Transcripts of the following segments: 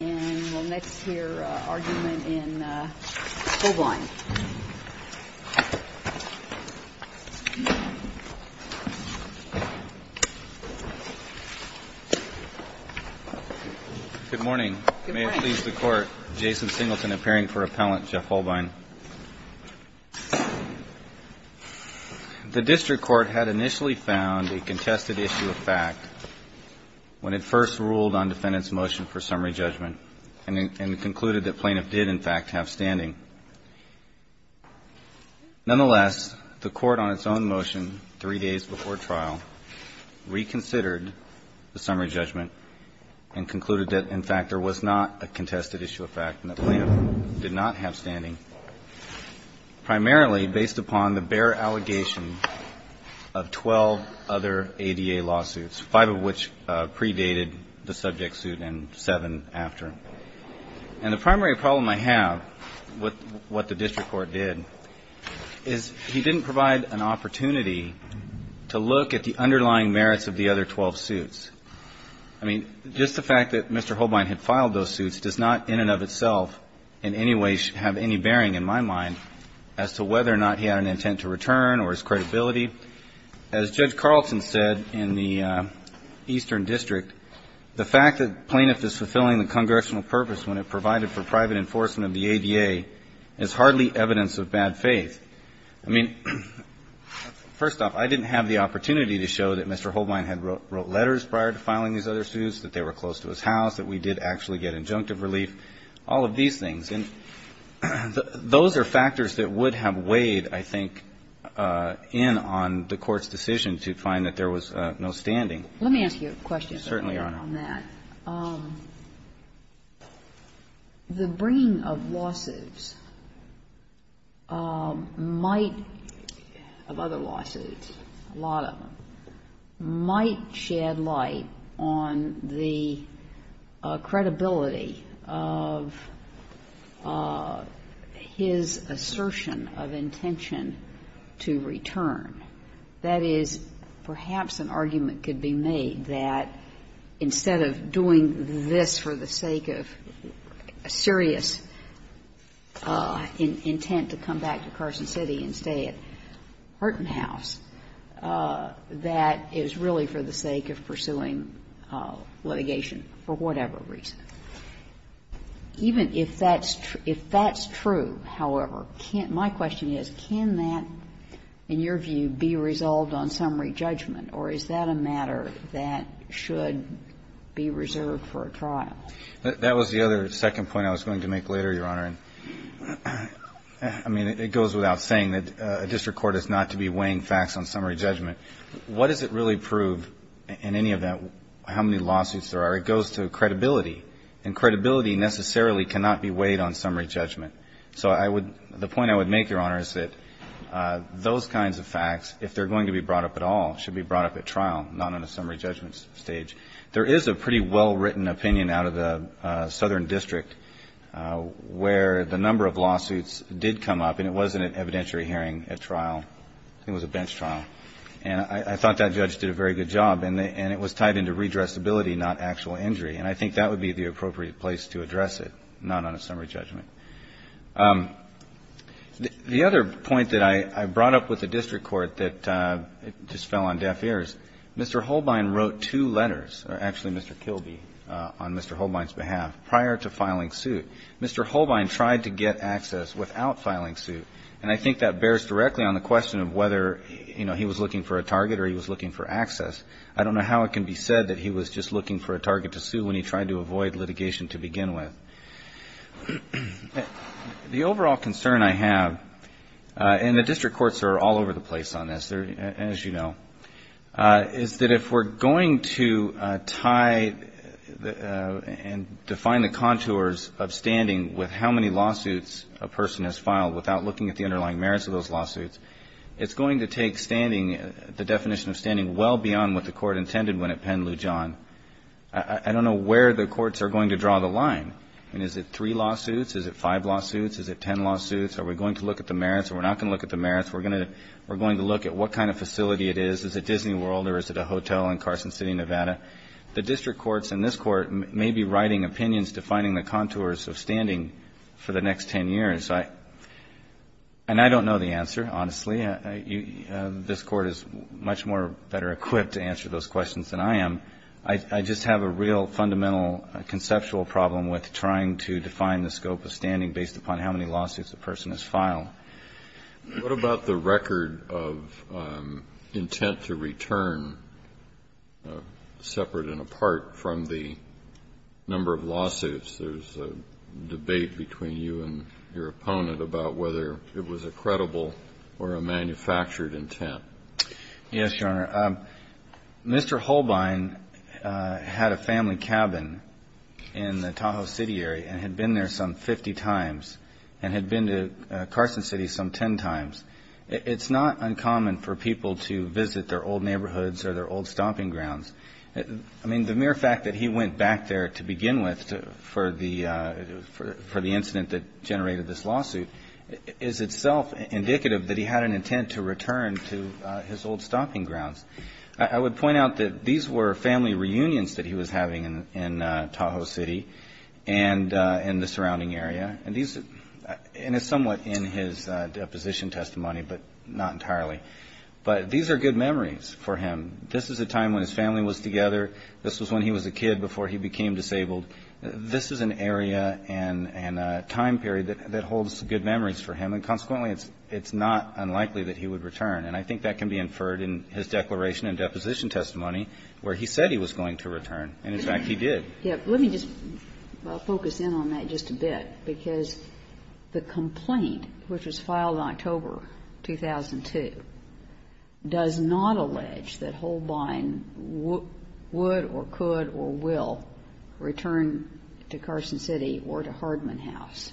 And we'll next hear an argument in Hohlbein. Good morning. May it please the Court, Jason Singleton appearing for Appellant Jeff Hohlbein. The District Court had initially found a contested issue of fact when it first ruled on defendant's motion for summary judgment and concluded that plaintiff did, in fact, have standing. Nonetheless, the Court on its own motion three days before trial reconsidered the summary judgment and concluded that, in fact, there was not a contested issue of fact and the plaintiff did not have standing, primarily based upon the bare allegation of 12 other ADA lawsuits, five of which predated the subject suit and seven after. And the primary problem I have with what the District Court did is he didn't provide an opportunity to look at the underlying merits of the other 12 suits. I mean, just the fact that Mr. Hohlbein had filed those suits does not in and of itself in any way have any bearing in my mind as to whether or not he had an intent to return or his credibility. As Judge Carlson said in the Eastern District, the fact that plaintiff is fulfilling the Congressional purpose when it provided for private enforcement of the ADA is hardly evidence of bad faith. I mean, first off, I didn't have the opportunity to show that Mr. Hohlbein had wrote letters prior to filing these other suits, that they were close to his house, that we did actually get injunctive relief, all of these things. And those are factors that would have weighed, I think, in on the Court's decision to find that there was no standing. Let me ask you a question. Certainly, Your Honor. On that. The bringing of lawsuits might, of other lawsuits, a lot of them, might shed light on the credibility of his assertion of intention to return. That is, perhaps an argument could be made that instead of doing this for the sake of serious intent to come back to Carson City and stay at Horton House, that is really for the sake of pursuing litigation for whatever reason. Even if that's true, however, my question is, can that, in your view, be resolved on summary judgment, or is that a matter that should be reserved for a trial? That was the other second point I was going to make later, Your Honor. I mean, it goes without saying that a district court is not to be weighing facts on summary judgment. What does it really prove, in any event, how many lawsuits there are? It goes to credibility. And credibility necessarily cannot be weighed on summary judgment. So I would — the point I would make, Your Honor, is that those kinds of facts, if they're going to be brought up at all, should be brought up at trial, not on a summary judgment stage. There is a pretty well-written opinion out of the Southern District where the number of lawsuits did come up, and it wasn't an evidentiary hearing at trial. I think it was a bench trial. And I thought that judge did a very good job. And it was tied into redressability, not actual injury. And I think that would be the appropriate place to address it, not on a summary judgment. The other point that I brought up with the district court that just fell on deaf ears, Mr. Holbein wrote two letters, or actually Mr. Kilby, on Mr. Holbein's behalf prior to filing suit. Mr. Holbein tried to get access without filing suit, and I think that bears directly on the question of whether, you know, he was looking for a target or he was looking for access. I don't know how it can be said that he was just looking for a target to sue when he tried to avoid litigation to begin with. The overall concern I have, and the district courts are all over the place on this, as you know, is that if we're going to tie and define the contours of standing with how many lawsuits a person has filed without looking at the underlying merits of those lawsuits, it's going to take standing, the definition of standing, well beyond what the court intended when it penned Lou John. I don't know where the courts are going to draw the line. I mean, is it three lawsuits? Is it five lawsuits? Is it ten lawsuits? Are we going to look at the merits? We're not going to look at the merits. We're going to look at what kind of facility it is. Is it Disney World or is it a hotel in Carson City, Nevada? The district courts and this court may be writing opinions defining the contours of standing for the next ten years. And I don't know the answer, honestly. This Court is much more better equipped to answer those questions than I am. I just have a real fundamental conceptual problem with trying to define the scope of standing based upon how many lawsuits a person has filed. Kennedy. What about the record of intent to return separate and apart from the number of lawsuits? There's a debate between you and your opponent about whether it was a credible or a manufactured intent. Yes, Your Honor. Mr. Holbein had a family cabin in the Tahoe City area and had been there some 50 times and had been to Carson City some ten times. It's not uncommon for people to visit their old neighborhoods or their old stomping grounds. I mean, the mere fact that he went back there to begin with for the incident that generated this lawsuit is itself indicative that he had an intent to return to his old stomping grounds. I would point out that these were family reunions that he was having in Tahoe City and in the surrounding area. And it's somewhat in his deposition testimony, but not entirely. But these are good memories for him. This is a time when his family was together. This was when he was a kid before he became disabled. This is an area and a time period that holds good memories for him. And consequently, it's not unlikely that he would return. And I think that can be inferred in his declaration and deposition testimony where he said he was going to return. And, in fact, he did. Let me just focus in on that just a bit, because the complaint, which was filed in October 2002, does not allege that Holbein would or could or will return to Carson City or to Hardman House.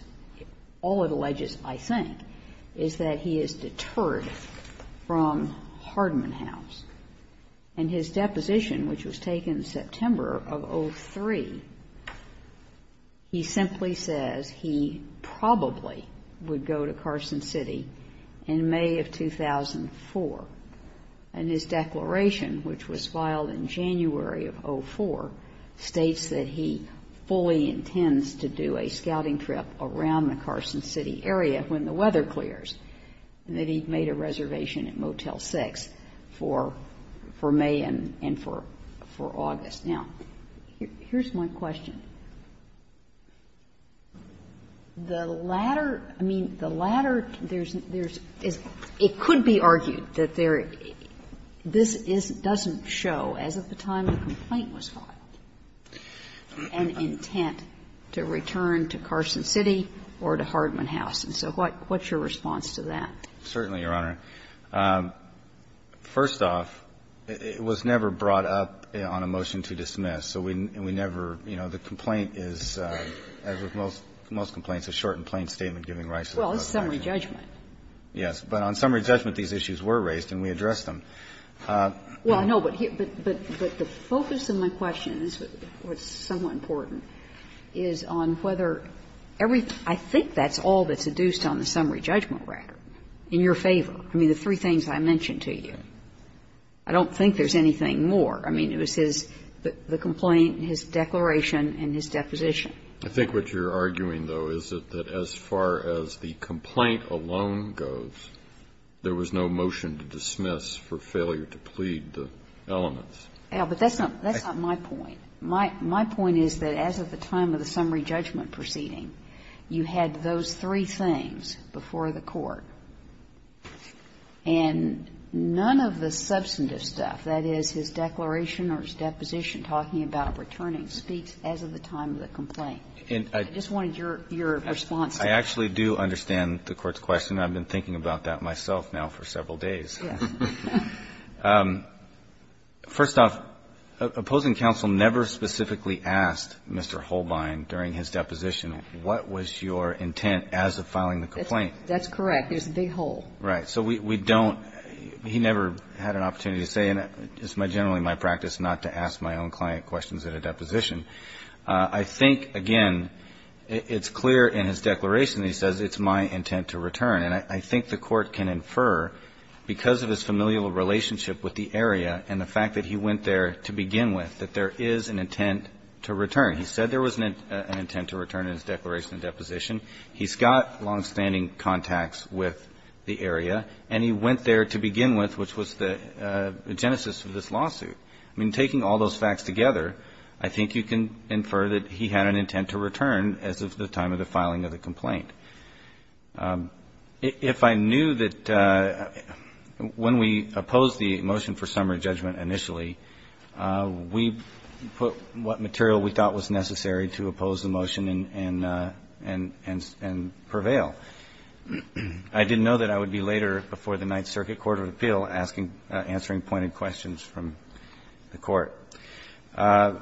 All it alleges, I think, is that he is deterred from Hardman House. In his deposition, which was taken in September of 2003, he simply says he probably would go to Carson City in May of 2004. And his declaration, which was filed in January of 2004, states that he fully intends to do a scouting trip around the Carson City area when the weather clears, and that he made a reservation at Motel 6 for May and for August. Now, here's my question. The latter, I mean, the latter, there's, it could be argued that there, this doesn't show, as of the time the complaint was filed, an intent to return to Carson City or to Hardman House. And so what's your response to that? Certainly, Your Honor. First off, it was never brought up on a motion to dismiss. So we never, you know, the complaint is, as with most complaints, a short and plain statement giving rise to the question. Well, it's a summary judgment. Yes, but on summary judgment, these issues were raised and we addressed them. Well, no, but the focus of my question, and this is somewhat important, is on whether every, I think that's all that's adduced on the summary judgment record, in your favor, I mean, the three things I mentioned to you. I don't think there's anything more. I mean, it was his, the complaint, his declaration and his deposition. I think what you're arguing, though, is that as far as the complaint alone goes, there was no motion to dismiss for failure to plead the elements. Yeah, but that's not, that's not my point. My point is that as of the time of the summary judgment proceeding, you had those three things before the court. And none of the substantive stuff, that is, his declaration or his deposition talking about returning, speaks as of the time of the complaint. And I just wanted your response to that. I actually do understand the Court's question. I've been thinking about that myself now for several days. First off, opposing counsel never specifically asked Mr. Holbein during his deposition, what was your intent as of filing the complaint? That's correct. I mean, that is the whole. Right. So we don't, he never had an opportunity to say, and it's generally my practice not to ask my own client questions at a deposition. I think, again, it's clear in his declaration that he says, it's my intent to return. And I think the Court can infer, because of his familial relationship with the area and the fact that he went there to begin with, that there is an intent to return. He said there was an intent to return in his declaration and deposition. He's got longstanding contacts with the area. And he went there to begin with, which was the genesis of this lawsuit. I mean, taking all those facts together, I think you can infer that he had an intent to return as of the time of the filing of the complaint. If I knew that when we opposed the motion for summary judgment initially, we put what material we thought was necessary to oppose the motion and prevail. I didn't know that I would be later before the Ninth Circuit Court of Appeal answering pointed questions from the Court. I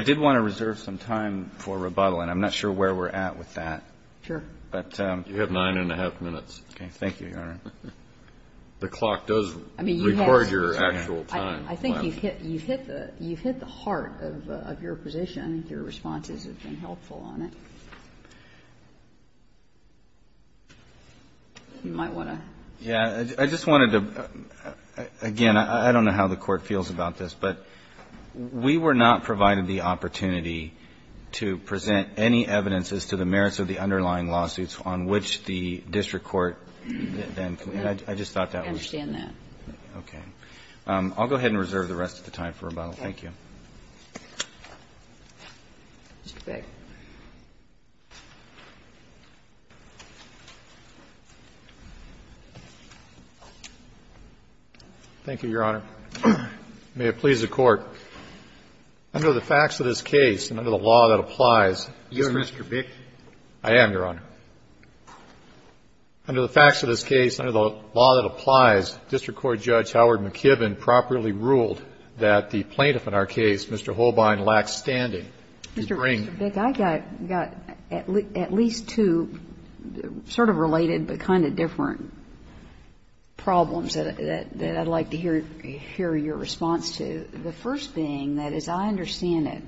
did want to reserve some time for rebuttal, and I'm not sure where we're at with that. Sure. You have nine and a half minutes. Okay. Thank you, Your Honor. The clock does record your actual time. I think you've hit the heart of your position. I think your responses have been helpful on it. You might want to. Yeah. I just wanted to, again, I don't know how the Court feels about this, but we were not provided the opportunity to present any evidences to the merits of the underlying lawsuits on which the district court then, and I just thought that was. I understand that. Okay. I'll go ahead and reserve the rest of the time for rebuttal. Thank you. Mr. Bick. Thank you, Your Honor. May it please the Court, under the facts of this case and under the law that applies, Mr. Bick. I am, Your Honor. Under the facts of this case, under the law that applies, District Court Judge Howard McKibbin properly ruled that the plaintiff in our case, Mr. Holbein, lacks standing to bring. Mr. Bick, I've got at least two sort of related but kind of different problems that I'd like to hear your response to. The first being that, as I understand it,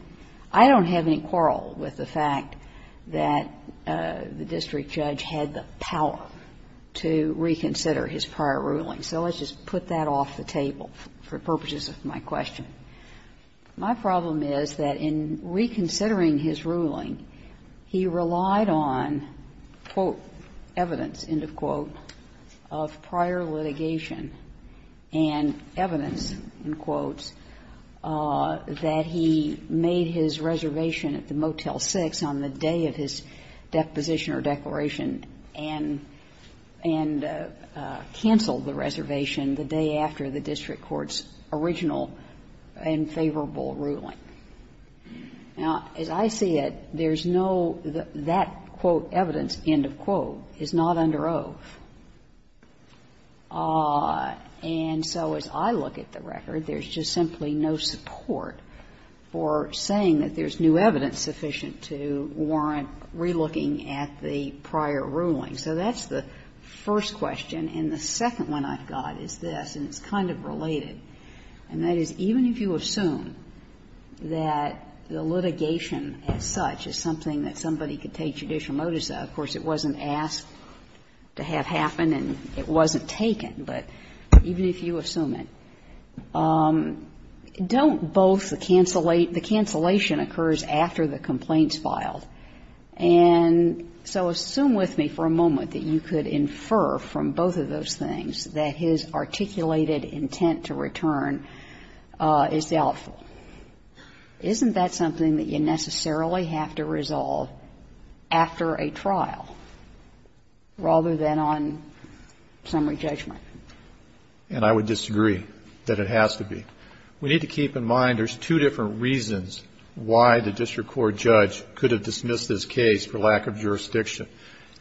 I don't have any quarrel with the fact that the district judge had the power to reconsider his prior ruling. So let's just put that off the table for purposes of my question. My problem is that in reconsidering his ruling, he relied on, quote, evidence, end of quote, of prior litigation and evidence, end quotes, that he made his reservation at the Motel 6 on the day of his deposition or declaration and canceled the reservation the day after the district court's original and favorable ruling. Now, as I see it, there's no that, quote, evidence, end of quote, is not under oath. And so as I look at the record, there's just simply no support for saying that there's new evidence sufficient to warrant relooking at the prior ruling. So that's the first question. And the second one I've got is this, and it's kind of related, and that is even if you assume that the litigation as such is something that somebody could take judicial notice of, of course, it wasn't asked to have happen and it wasn't taken, but even if you assume it, don't both the cancellation occurs after the complaint is filed? And so assume with me for a moment that you could infer from both of those things that his articulated intent to return is doubtful. Isn't that something that you necessarily have to resolve after a trial rather than on summary judgment? And I would disagree that it has to be. We need to keep in mind there's two different reasons why the district court judge could have dismissed this case for lack of jurisdiction.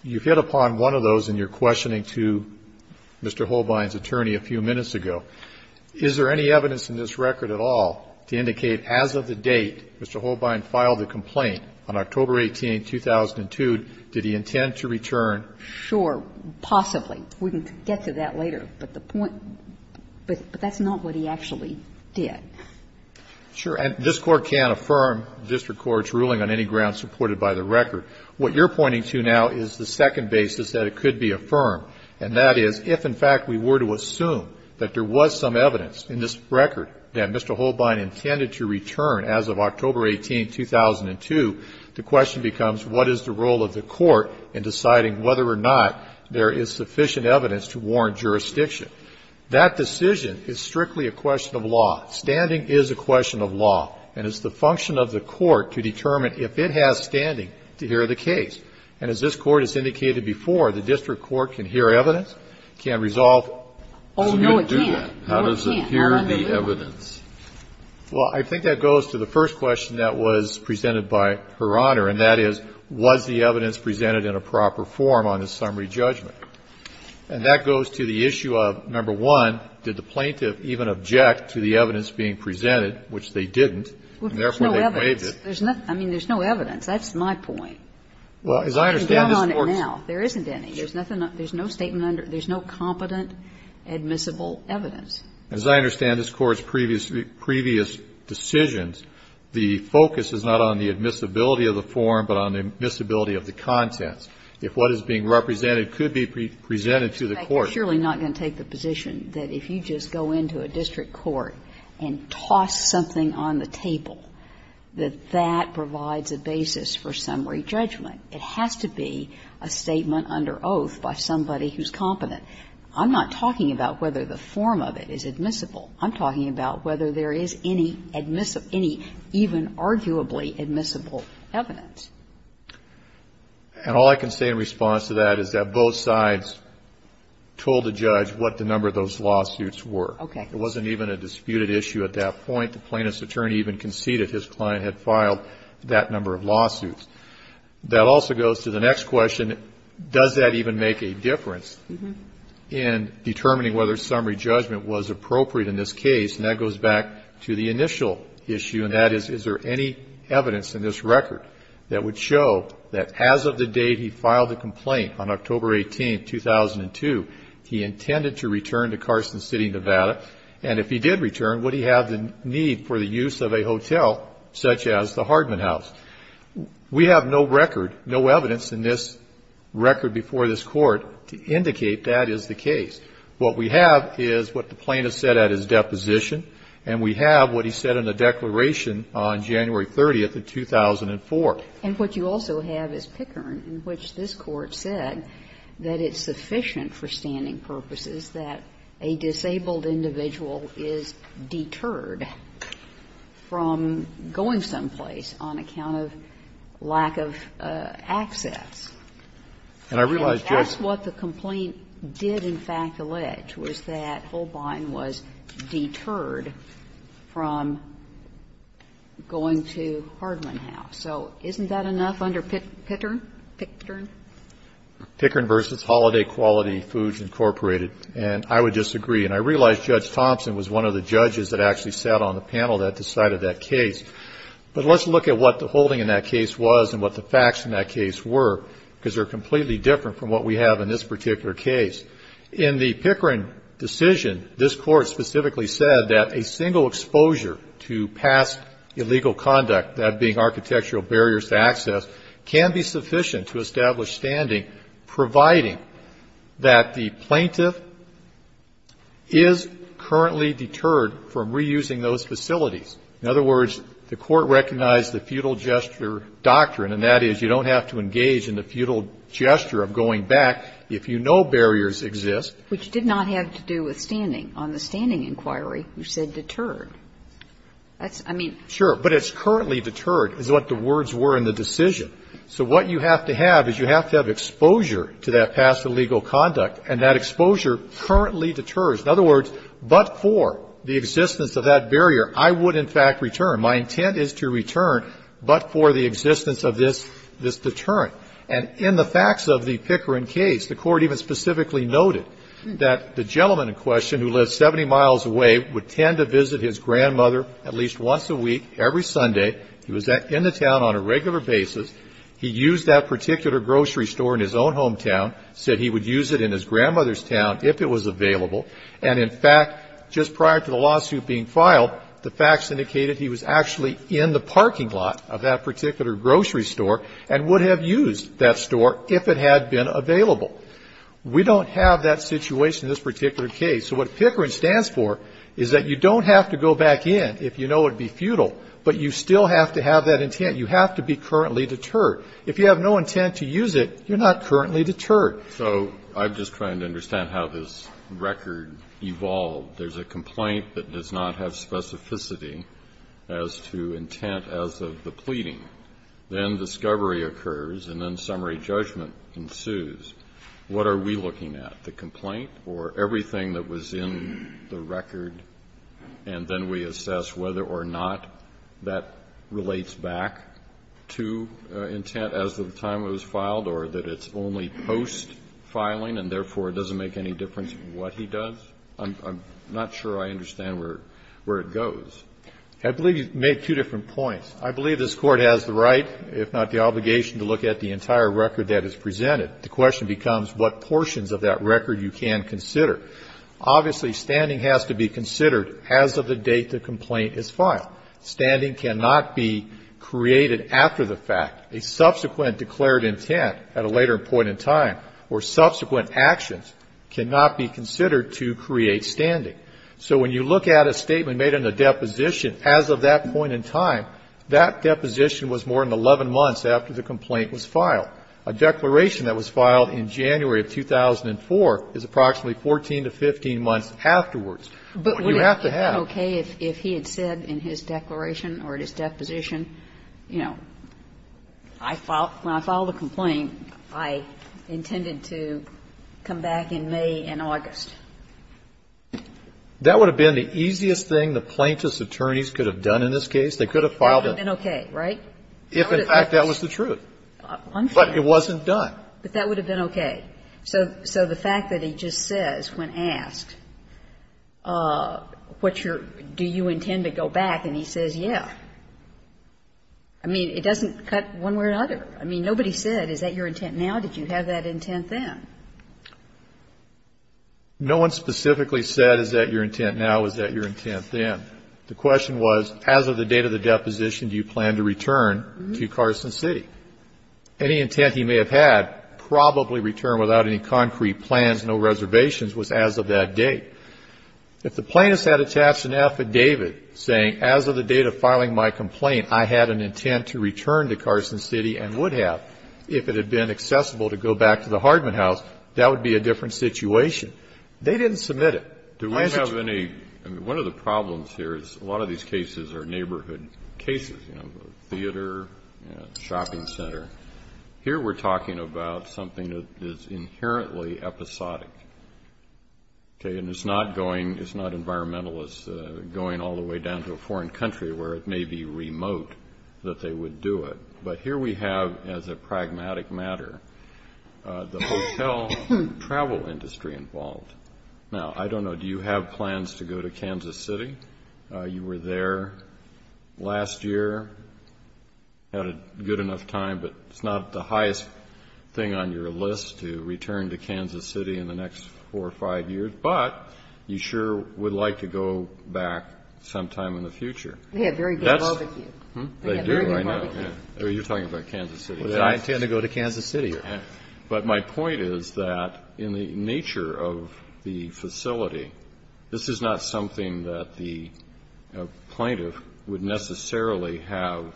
You hit upon one of those in your questioning to Mr. Holbein's attorney a few minutes ago. Is there any evidence in this record at all to indicate as of the date Mr. Holbein filed the complaint on October 18, 2002, did he intend to return? Sure, possibly. We can get to that later, but the point, but that's not what he actually did. Sure. And this Court can affirm district court's ruling on any grounds supported by the record. What you're pointing to now is the second basis that it could be affirmed, and that is if, in fact, we were to assume that there was some evidence in this record that Mr. Holbein intended to return as of October 18, 2002, the question becomes what is the role of the court in deciding whether or not there is sufficient evidence to warrant jurisdiction. That decision is strictly a question of law. Standing is a question of law, and it's the function of the court to determine if it has standing to hear the case. And as this Court has indicated before, the district court can hear evidence, can resolve. Oh, no, it can't. How does it hear the evidence? Well, I think that goes to the first question that was presented by Her Honor, and that is, was the evidence presented in a proper form on a summary judgment? And that goes to the issue of, number one, did the plaintiff even object to the evidence being presented, which they didn't, and therefore they waived it? I mean, there's no evidence. That's my point. Well, as I understand this Court's previous decisions, the focus is not on the admissibility of the form, but on the admissibility of the contents. If what is being represented could be presented to the court. Kagan, you're surely not going to take the position that if you just go into a district court and toss something on the table, that that provides a basis for summary judgment. It has to be a statement under oath by somebody who's competent. I'm not talking about whether the form of it is admissible. I'm talking about whether there is any admissible, any even arguably admissible evidence. And all I can say in response to that is that both sides told the judge what the number of those lawsuits were. Okay. It wasn't even a disputed issue at that point. The plaintiff's attorney even conceded his client had filed that number of lawsuits. That also goes to the next question, does that even make a difference in determining whether summary judgment was appropriate in this case? And that goes back to the initial issue. And that is, is there any evidence in this record that would show that as of the date he filed the complaint on October 18, 2002, he intended to return to Carson City, Nevada? And if he did return, would he have the need for the use of a hotel such as the Hardman House? We have no record, no evidence in this record before this court to indicate that is the case. What we have is what the plaintiff said at his deposition, and we have what he said in the declaration on January 30, 2004. And what you also have is Pickern, in which this court said that it's sufficient for standing purposes that a disabled individual is deterred from going someplace on account of lack of access. And I realize, Judge And that's what the complaint did, in fact, to Ledge, was that Holbein was deterred from going to Hardman House. So isn't that enough under Pickern? Pickern? Pickern v. Holiday Quality Foods, Incorporated. And I would disagree. And I realize Judge Thompson was one of the judges that actually sat on the panel that decided that case. But let's look at what the holding in that case was and what the facts in that case were, because they're completely different from what we have in this particular case. In the Pickern decision, this court specifically said that a single exposure to past illegal conduct, that being architectural barriers to access, can be sufficient to establish standing, providing that the plaintiff is currently deterred from reusing those facilities. In other words, the court recognized the feudal gesture doctrine, and that is you don't have to engage in the feudal gesture of going back. If you know barriers exist. Which did not have to do with standing. On the standing inquiry, you said deterred. That's, I mean. Sure. But it's currently deterred, is what the words were in the decision. So what you have to have is you have to have exposure to that past illegal conduct, and that exposure currently deters. In other words, but for the existence of that barrier, I would, in fact, return. My intent is to return, but for the existence of this deterrent. And in the facts of the Pickern case, the court even specifically noted that the gentleman in question, who lives 70 miles away, would tend to visit his grandmother at least once a week, every Sunday. He was in the town on a regular basis. He used that particular grocery store in his own hometown. Said he would use it in his grandmother's town if it was available. And in fact, just prior to the lawsuit being filed, the facts indicated he was actually in the parking lot of that particular grocery store, and would have used that store if it had been available. We don't have that situation in this particular case. So what Pickering stands for is that you don't have to go back in if you know it would be futile, but you still have to have that intent. You have to be currently deterred. If you have no intent to use it, you're not currently deterred. So I'm just trying to understand how this record evolved. There's a complaint that does not have specificity as to intent as of the pleading. Then discovery occurs, and then summary judgment ensues. What are we looking at? The complaint or everything that was in the record, and then we assess whether or not that relates back to intent as of the time it was filed, or that it's only post-filing, and therefore it doesn't make any difference what he does? I'm not sure I understand where it goes. I believe you've made two different points. I believe this Court has the right, if not the obligation, to look at the entire record that is presented. The question becomes what portions of that record you can consider. Obviously, standing has to be considered as of the date the complaint is filed. Standing cannot be created after the fact. A subsequent declared intent at a later point in time or subsequent actions cannot be considered to create standing. So when you look at a statement made in a deposition, as of that point in time, that deposition was more than 11 months after the complaint was filed. A declaration that was filed in January of 2004 is approximately 14 to 15 months afterwards. But you have to have to have. But would it be okay if he had said in his declaration or at his deposition, you know, I filed the complaint, I intended to come back in May and August? That would have been the easiest thing the plaintiff's attorneys could have done in this case. They could have filed it. That would have been okay, right? If, in fact, that was the truth. But it wasn't done. But that would have been okay. So the fact that he just says, when asked, what's your, do you intend to go back, and he says, yeah. I mean, it doesn't cut one way or another. I mean, nobody said, is that your intent now? Did you have that intent then? No one specifically said, is that your intent now? Was that your intent then? The question was, as of the date of the deposition, do you plan to return to Carson City? Any intent he may have had, probably return without any concrete plans, no reservations, was as of that date. If the plaintiff had attached an affidavit saying, as of the date of filing my complaint, I had an intent to return to Carson City and would have if it had been accessible to go back to the Hardman House, that would be a different situation. They didn't submit it. Do I have any, I mean, one of the problems here is a lot of these cases are neighborhood cases, you know, theater, shopping center. Here we're talking about something that is inherently episodic, okay? And it's not going, it's not environmentalists going all the way down to a foreign country where it may be remote that they would do it. But here we have, as a pragmatic matter, the hotel travel industry involved. Now, I don't know, do you have plans to go to Kansas City? You were there last year, had a good enough time, but it's not the highest thing on your list to return to Kansas City in the next four or five years. But you sure would like to go back sometime in the future. They have very good barbecue. They do, I know. You're talking about Kansas City. Do I intend to go to Kansas City? But my point is that in the nature of the facility, this is not something that the plaintiff would necessarily have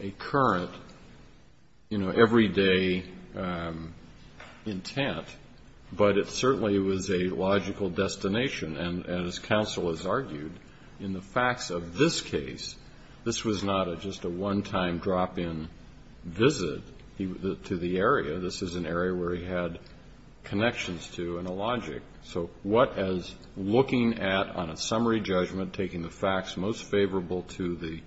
a current, you know, everyday intent, but it certainly was a logical destination. And as counsel has argued, in the facts of this case, this was not just a one-time drop-in visit to the area. This is an area where he had connections to and a logic. So what, as looking at, on a summary judgment, taking the facts most favorable to the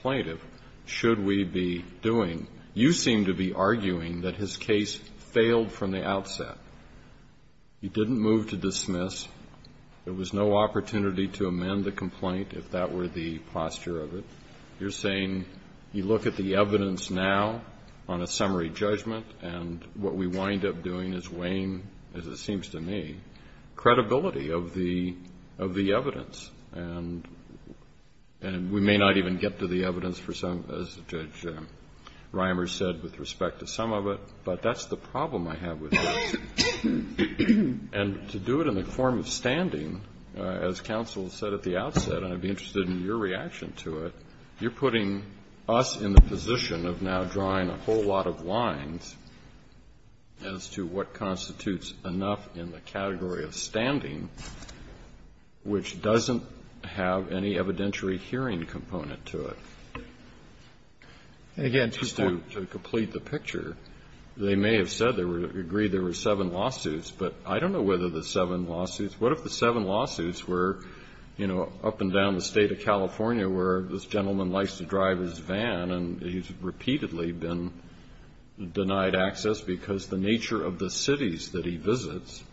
plaintiff, should we be doing? You seem to be arguing that his case failed from the outset. He didn't move to dismiss. There was no opportunity to amend the complaint, if that were the posture of it. You're saying you look at the evidence now on a summary judgment, and what we wind up doing is weighing, as it seems to me, credibility of the evidence. And we may not even get to the evidence for some, as Judge Reimer said, with respect to some of it, but that's the problem I have with this. And to do it in the form of standing, as counsel said at the outset, and I'd be interested in your reaction to it, you're putting us in the position of now drawing a whole lot of lines as to what constitutes enough in the category of standing which doesn't have any evidentiary hearing component to it. And again, to complete the picture, they may have said they were going to agree there were seven lawsuits, but I don't know whether the seven lawsuits, what if the seven lawsuits were in California, where this gentleman likes to drive his van and he's repeatedly been denied access because the nature of the cities that he visits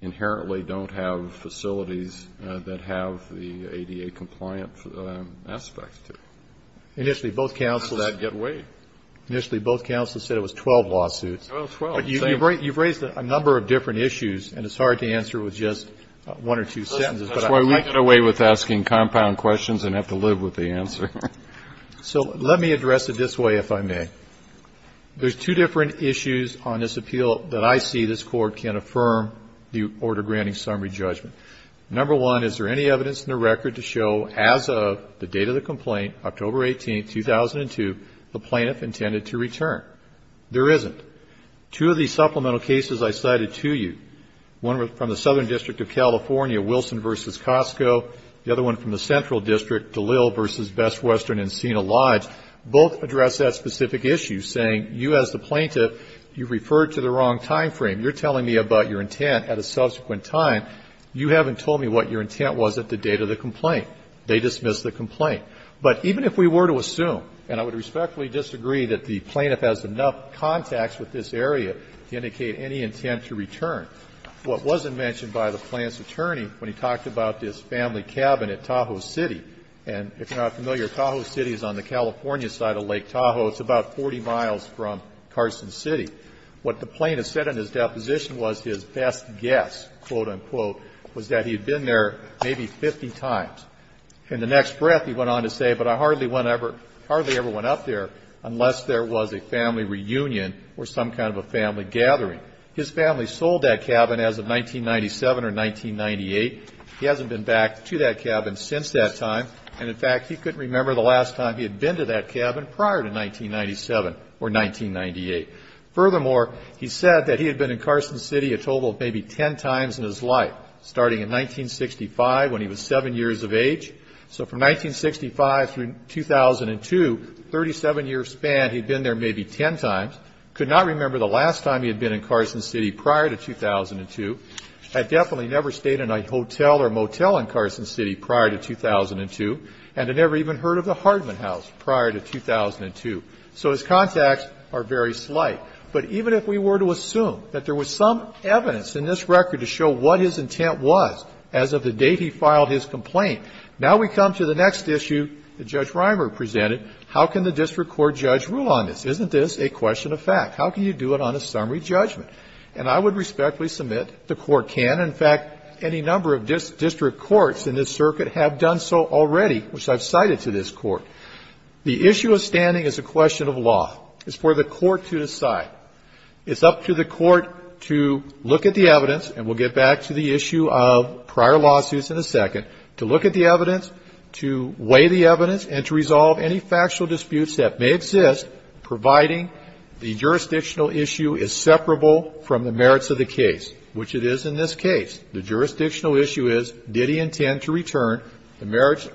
inherently don't have facilities that have the ADA-compliant aspects to them. Initially, both counsels said it was 12 lawsuits. But you've raised a number of different issues, and it's hard to answer with just one or two sentences, but I'm not going to get away with asking compound questions. I have to live with the answer. So let me address it this way, if I may. There's two different issues on this appeal that I see this Court can affirm the order granting summary judgment. Number one, is there any evidence in the record to show as of the date of the complaint, October 18, 2002, the plaintiff intended to return? There isn't. Two of these supplemental cases I cited to you, one from the Southern District of California, Wilson v. Costco, the other one from the Central District, Dalil v. Best Western Encina Lodge, both address that specific issue, saying, you as the plaintiff, you referred to the wrong time frame. You're telling me about your intent at a subsequent time. You haven't told me what your intent was at the date of the complaint. They dismiss the complaint. But even if we were to assume, and I would respectfully disagree that the plaintiff has enough contacts with this area to indicate any intent to return, what wasn't mentioned by the plaintiff's attorney when he talked about this family cabin at Tahoe City, and if you're not familiar, Tahoe City is on the California side of Lake Tahoe. It's about 40 miles from Carson City. What the plaintiff said in his deposition was his best guess, quote, unquote, was that he had been there maybe 50 times. In the next breath, he went on to say, but I hardly ever went up there unless there was a family reunion or some kind of a family gathering. His family sold that cabin as of 1997 or 1998. He hasn't been back to that cabin since that time. And in fact, he couldn't remember the last time he had been to that cabin prior to 1997 or 1998. Furthermore, he said that he had been in Carson City a total of maybe 10 times in his life, starting in 1965 when he was 7 years of age. So from 1965 through 2002, 37-year span, he'd been there maybe 10 times. Could not remember the last time he had been in Carson City prior to 2002. Had definitely never stayed in a hotel or motel in Carson City prior to 2002. And had never even heard of the Hardman House prior to 2002. So his contacts are very slight. But even if we were to assume that there was some evidence in this record to show what his intent was as of the date he filed his complaint, now we come to the next issue that Judge Reimer presented. How can the district court judge rule on this? Isn't this a question of fact? How can you do it on a summary judgment? And I would respectfully submit the court can. In fact, any number of district courts in this circuit have done so already, which I've cited to this court. The issue of standing is a question of law. It's for the court to decide. It's up to the court to look at the evidence, and we'll get back to the issue of prior lawsuits in a second, to look at the evidence, to weigh the evidence, and to resolve any factual disputes that may exist, providing the jurisdictional issue is separable from the merits of the case, which it is in this case. The jurisdictional issue is, did he intend to return? The merits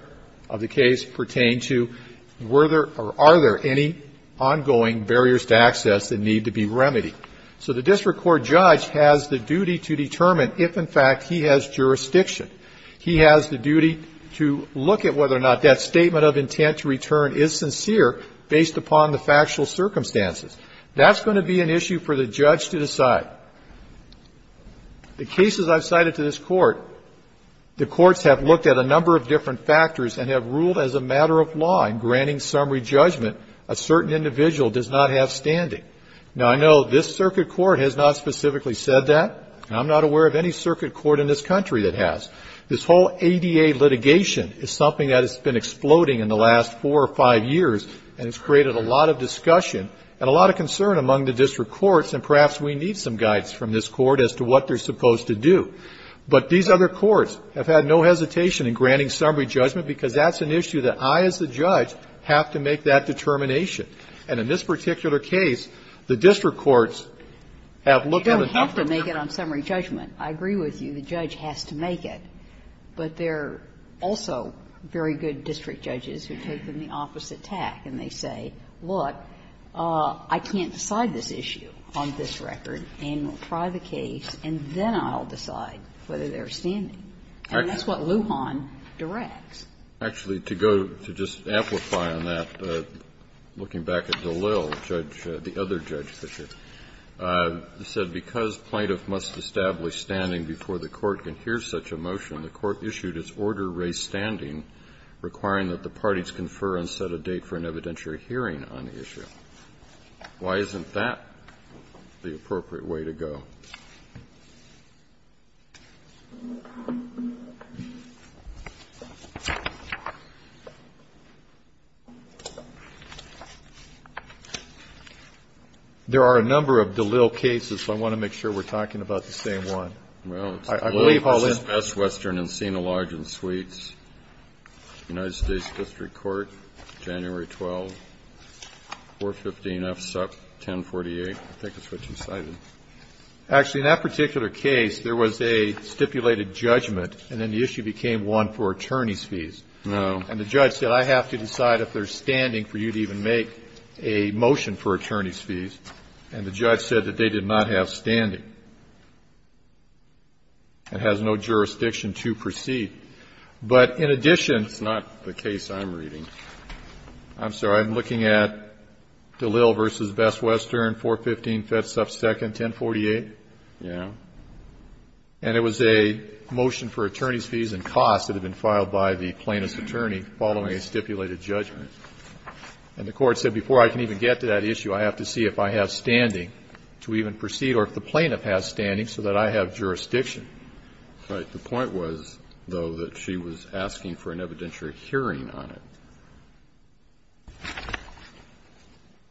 of the case pertain to, were there or are there any ongoing barriers to access that need to be remedied? So the district court judge has the duty to determine if, in fact, he has jurisdiction. He has the duty to look at whether or not that statement of intent to return is sincere based upon the factual circumstances. That's going to be an issue for the judge to decide. The cases I've cited to this court, the courts have looked at a number of different factors and have ruled as a matter of law in granting summary judgment a certain individual does not have standing. Now, I know this circuit court has not specifically said that, and I'm not aware of any This whole ADA litigation is something that has been exploding in the last four or five years, and it's created a lot of discussion and a lot of concern among the district courts, and perhaps we need some guides from this court as to what they're supposed to do. But these other courts have had no hesitation in granting summary judgment because that's an issue that I, as the judge, have to make that determination. And in this particular case, the district courts have looked at a number of different You don't have to make it on summary judgment. I agree with you. The judge has to make it. But there are also very good district judges who take them the opposite tack, and they say, look, I can't decide this issue on this record, and we'll try the case, and then I'll decide whether there's standing. And that's what Lujan directs. Actually, to go to just amplify on that, looking back at DeLille, Judge the other day, Judge Fischer, said because plaintiff must establish standing before the court can hear such a motion, the court issued its order to raise standing, requiring that the parties confer and set a date for an evidentiary hearing on the issue. Why isn't that the appropriate way to go? There are a number of DeLille cases, so I want to make sure we're talking about the same one. Well, it's DeLille v. West Western and Sina Lodge and Suites, United States District Court, January 12, 415 F. Sup. 1048. Actually, in that particular case, there was a stipulated judgment, and then the issue became one for attorney's fees. And the judge said, I have to decide if there's standing for you to even make a motion for attorney's fees. And the judge said that they did not have standing. It has no jurisdiction to proceed. But in addition to that, I'm looking at DeLille v. West Western, 415 F. Sup. 1048, and it was a motion for attorney's fees and costs that had been filed by the plaintiff's attorney following a stipulated judgment. And the court said, before I can even get to that issue, I have to see if I have standing to even proceed or if the plaintiff has standing so that I have jurisdiction. Right. The point was, though, that she was asking for an evidentiary hearing on it.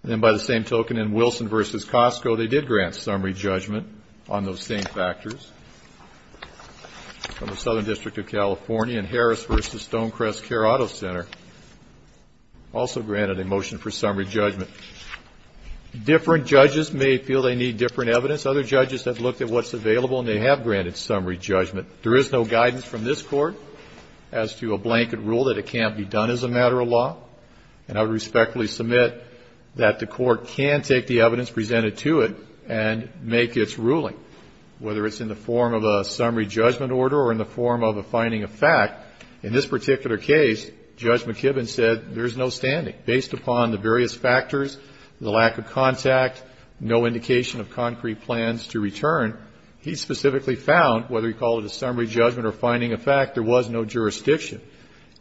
And then by the same token, in Wilson v. Costco, they did grant summary judgment on those same factors. From the Southern District of California, in Harris v. Stonecrest Care Auto Center, also granted a motion for summary judgment. Different judges may feel they need different evidence. Other judges have looked at what's available, and they have granted summary judgment. There is no guidance from this Court as to a blanket rule that it can't be done as a matter of law. And I would respectfully submit that the Court can take the evidence presented to it and make its ruling, whether it's in the form of a summary judgment order or in the form of a finding of fact. In this particular case, Judge McKibbin said there's no standing. Based upon the various factors, the lack of contact, no indication of concrete plans to return, he specifically found, whether you call it a summary judgment or finding of fact, there was no jurisdiction.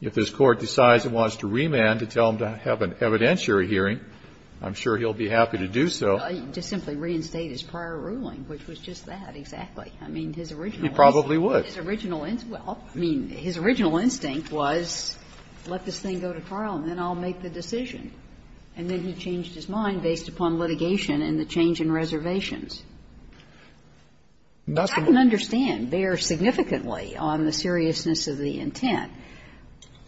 If this Court decides it wants to remand to tell him to have an evidentiary hearing, I'm sure he'll be happy to do so. Just simply reinstate his prior ruling, which was just that, exactly. I mean, his original instinct. He probably would. Well, I mean, his original instinct was, let this thing go to trial and then I'll make the decision. And then he changed his mind based upon litigation and the change in reservations. I can understand, bear significantly on the seriousness of the intent.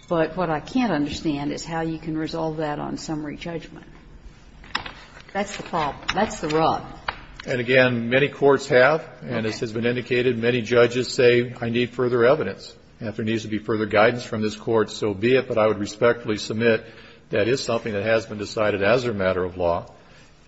But what I can't understand is how you can resolve that on summary judgment. That's the problem. That's the rub. And, again, many courts have, and this has been indicated, many judges say, I need further evidence. If there needs to be further guidance from this Court, so be it. But I would respectfully submit that is something that has been decided as a matter of law.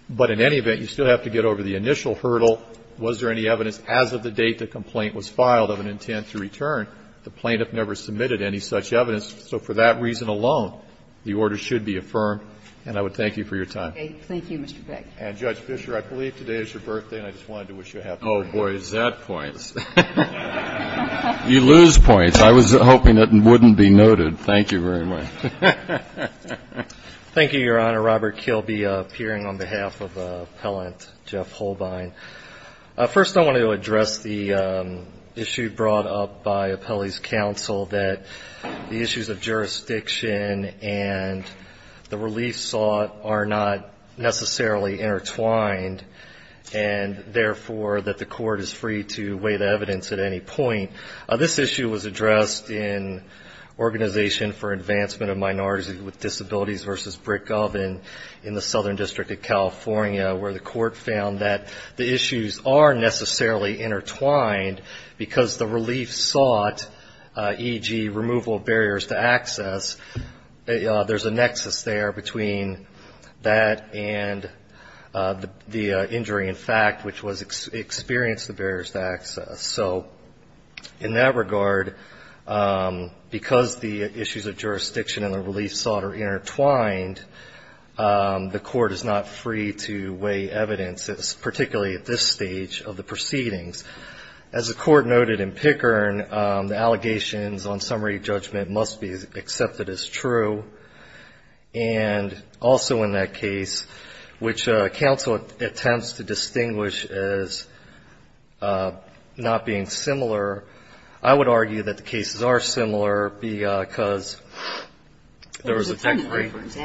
But in any event, you still have to get over the initial hurdle. Was there any evidence as of the date the complaint was filed of an intent to return? The plaintiff never submitted any such evidence. So for that reason alone, the order should be affirmed. And I would thank you for your time. Okay. Thank you, Mr. Beck. And, Judge Fischer, I believe today is your birthday, and I just wanted to wish you a happy birthday. Oh, boy, is that points. You lose points. I was hoping it wouldn't be noted. Thank you very much. Thank you, Your Honor. Robert Kilby, appearing on behalf of Appellant Jeff Holbein. First, I wanted to address the issue brought up by Appellee's Counsel that the issues of jurisdiction and the relief sought are not necessarily intertwined, and, therefore, that the Court is free to weigh the evidence at any point. This issue was addressed in Organization for Advancement of Minorities with Disabilities v. Britt Gov in the Southern District of California, where the Court found that the issues are necessarily intertwined because the relief sought, e.g., removal of barriers to access, there's a nexus there between that and the injury, in fact, which experienced the barriers to access. So, in that regard, because the issues of jurisdiction and the relief sought are intertwined, the Court is not free to weigh evidence, particularly at this stage of the proceedings. As the Court noted in Pickern, the allegations on summary judgment must be accepted as true, and also in that case, which counsel attempts to distinguish as not being similar, I would argue that the cases are similar because there was a technical difference.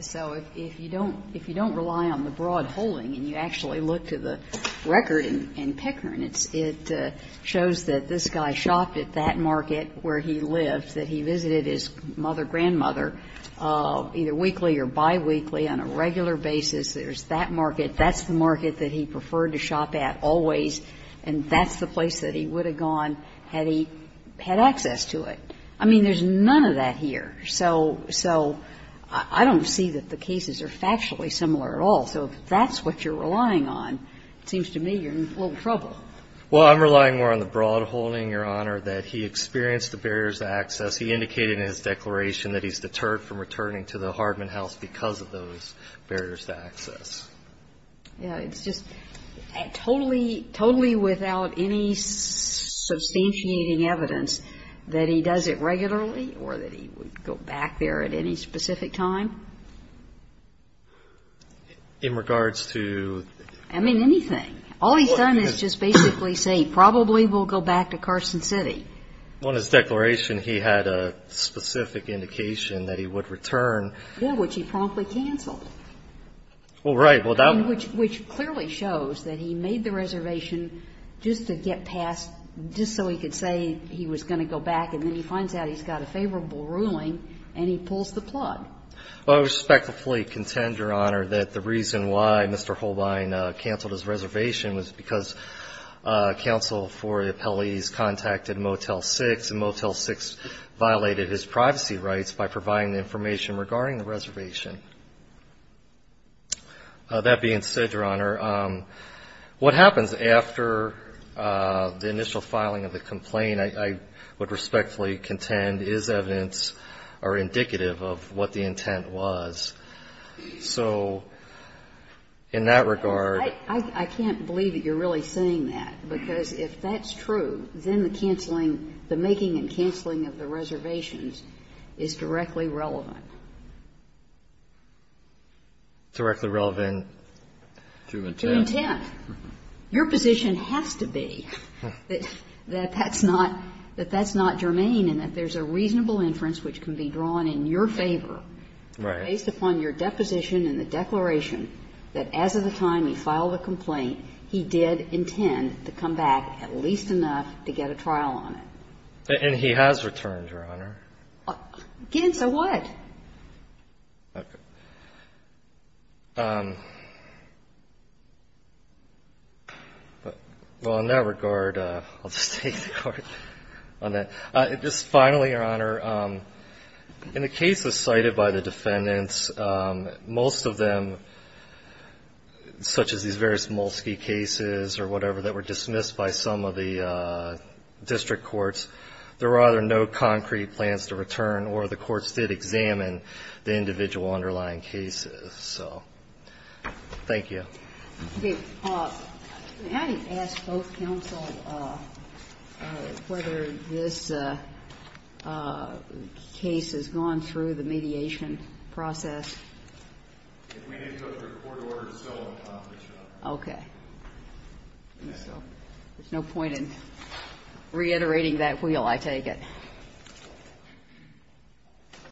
So if you don't rely on the broad holding and you actually look to the record in Pickern, it shows that this guy shopped at that market where he lived, that he visited his mother, grandmother, either weekly or biweekly on a regular basis. There's that market. That's the market that he preferred to shop at always, and that's the place that he would have gone had he had access to it. I mean, there's none of that here. So I don't see that the cases are factually similar at all. So if that's what you're relying on, it seems to me you're in a little trouble. Well, I'm relying more on the broad holding, Your Honor, that he experienced the barriers to access. He indicated in his declaration that he's deterred from returning to the Hardman House because of those barriers to access. Yeah. It's just totally, totally without any substantiating evidence that he does it regularly or that he would go back there at any specific time? In regards to? I mean, anything. All he's done is just basically say, probably we'll go back to Carson City. Well, in his declaration, he had a specific indication that he would return. Yeah, which he promptly canceled. Well, right. Well, that. Which clearly shows that he made the reservation just to get past, just so he could say he was going to go back, and then he finds out he's got a favorable ruling and he pulls the plug. Well, I respectfully contend, Your Honor, that the reason why Mr. Holbein canceled his reservation was because counsel for the appellees contacted Motel 6, and Motel 6 violated his privacy rights by providing the information regarding the reservation. That being said, Your Honor, what happens after the initial filing of the complaint, I would respectfully contend is evidence or indicative of what the intent was. So in that regard. I can't believe that you're really saying that, because if that's true, then the canceling, the making and canceling of the reservations is directly relevant. Directly relevant to intent. To intent. Your position has to be that that's not, that that's not germane and that there's a reasonable inference which can be drawn in your favor. Right. Based upon your deposition and the declaration that as of the time he filed a complaint, he did intend to come back at least enough to get a trial on it. And he has returned, Your Honor. Again, so what? Okay. Well, in that regard, I'll just take the court on that. Just finally, Your Honor, in the cases cited by the defendants, most of them, such as these various Molsky cases or whatever that were dismissed by some of the district courts, there were either no concrete plans to return or the courts did examine the individual underlying cases. So, thank you. Okay. May I ask both counsel whether this case has gone through the mediation process? If we need to go through a court order to still accomplish that. Okay. So, there's no point in reiterating that wheel, I take it.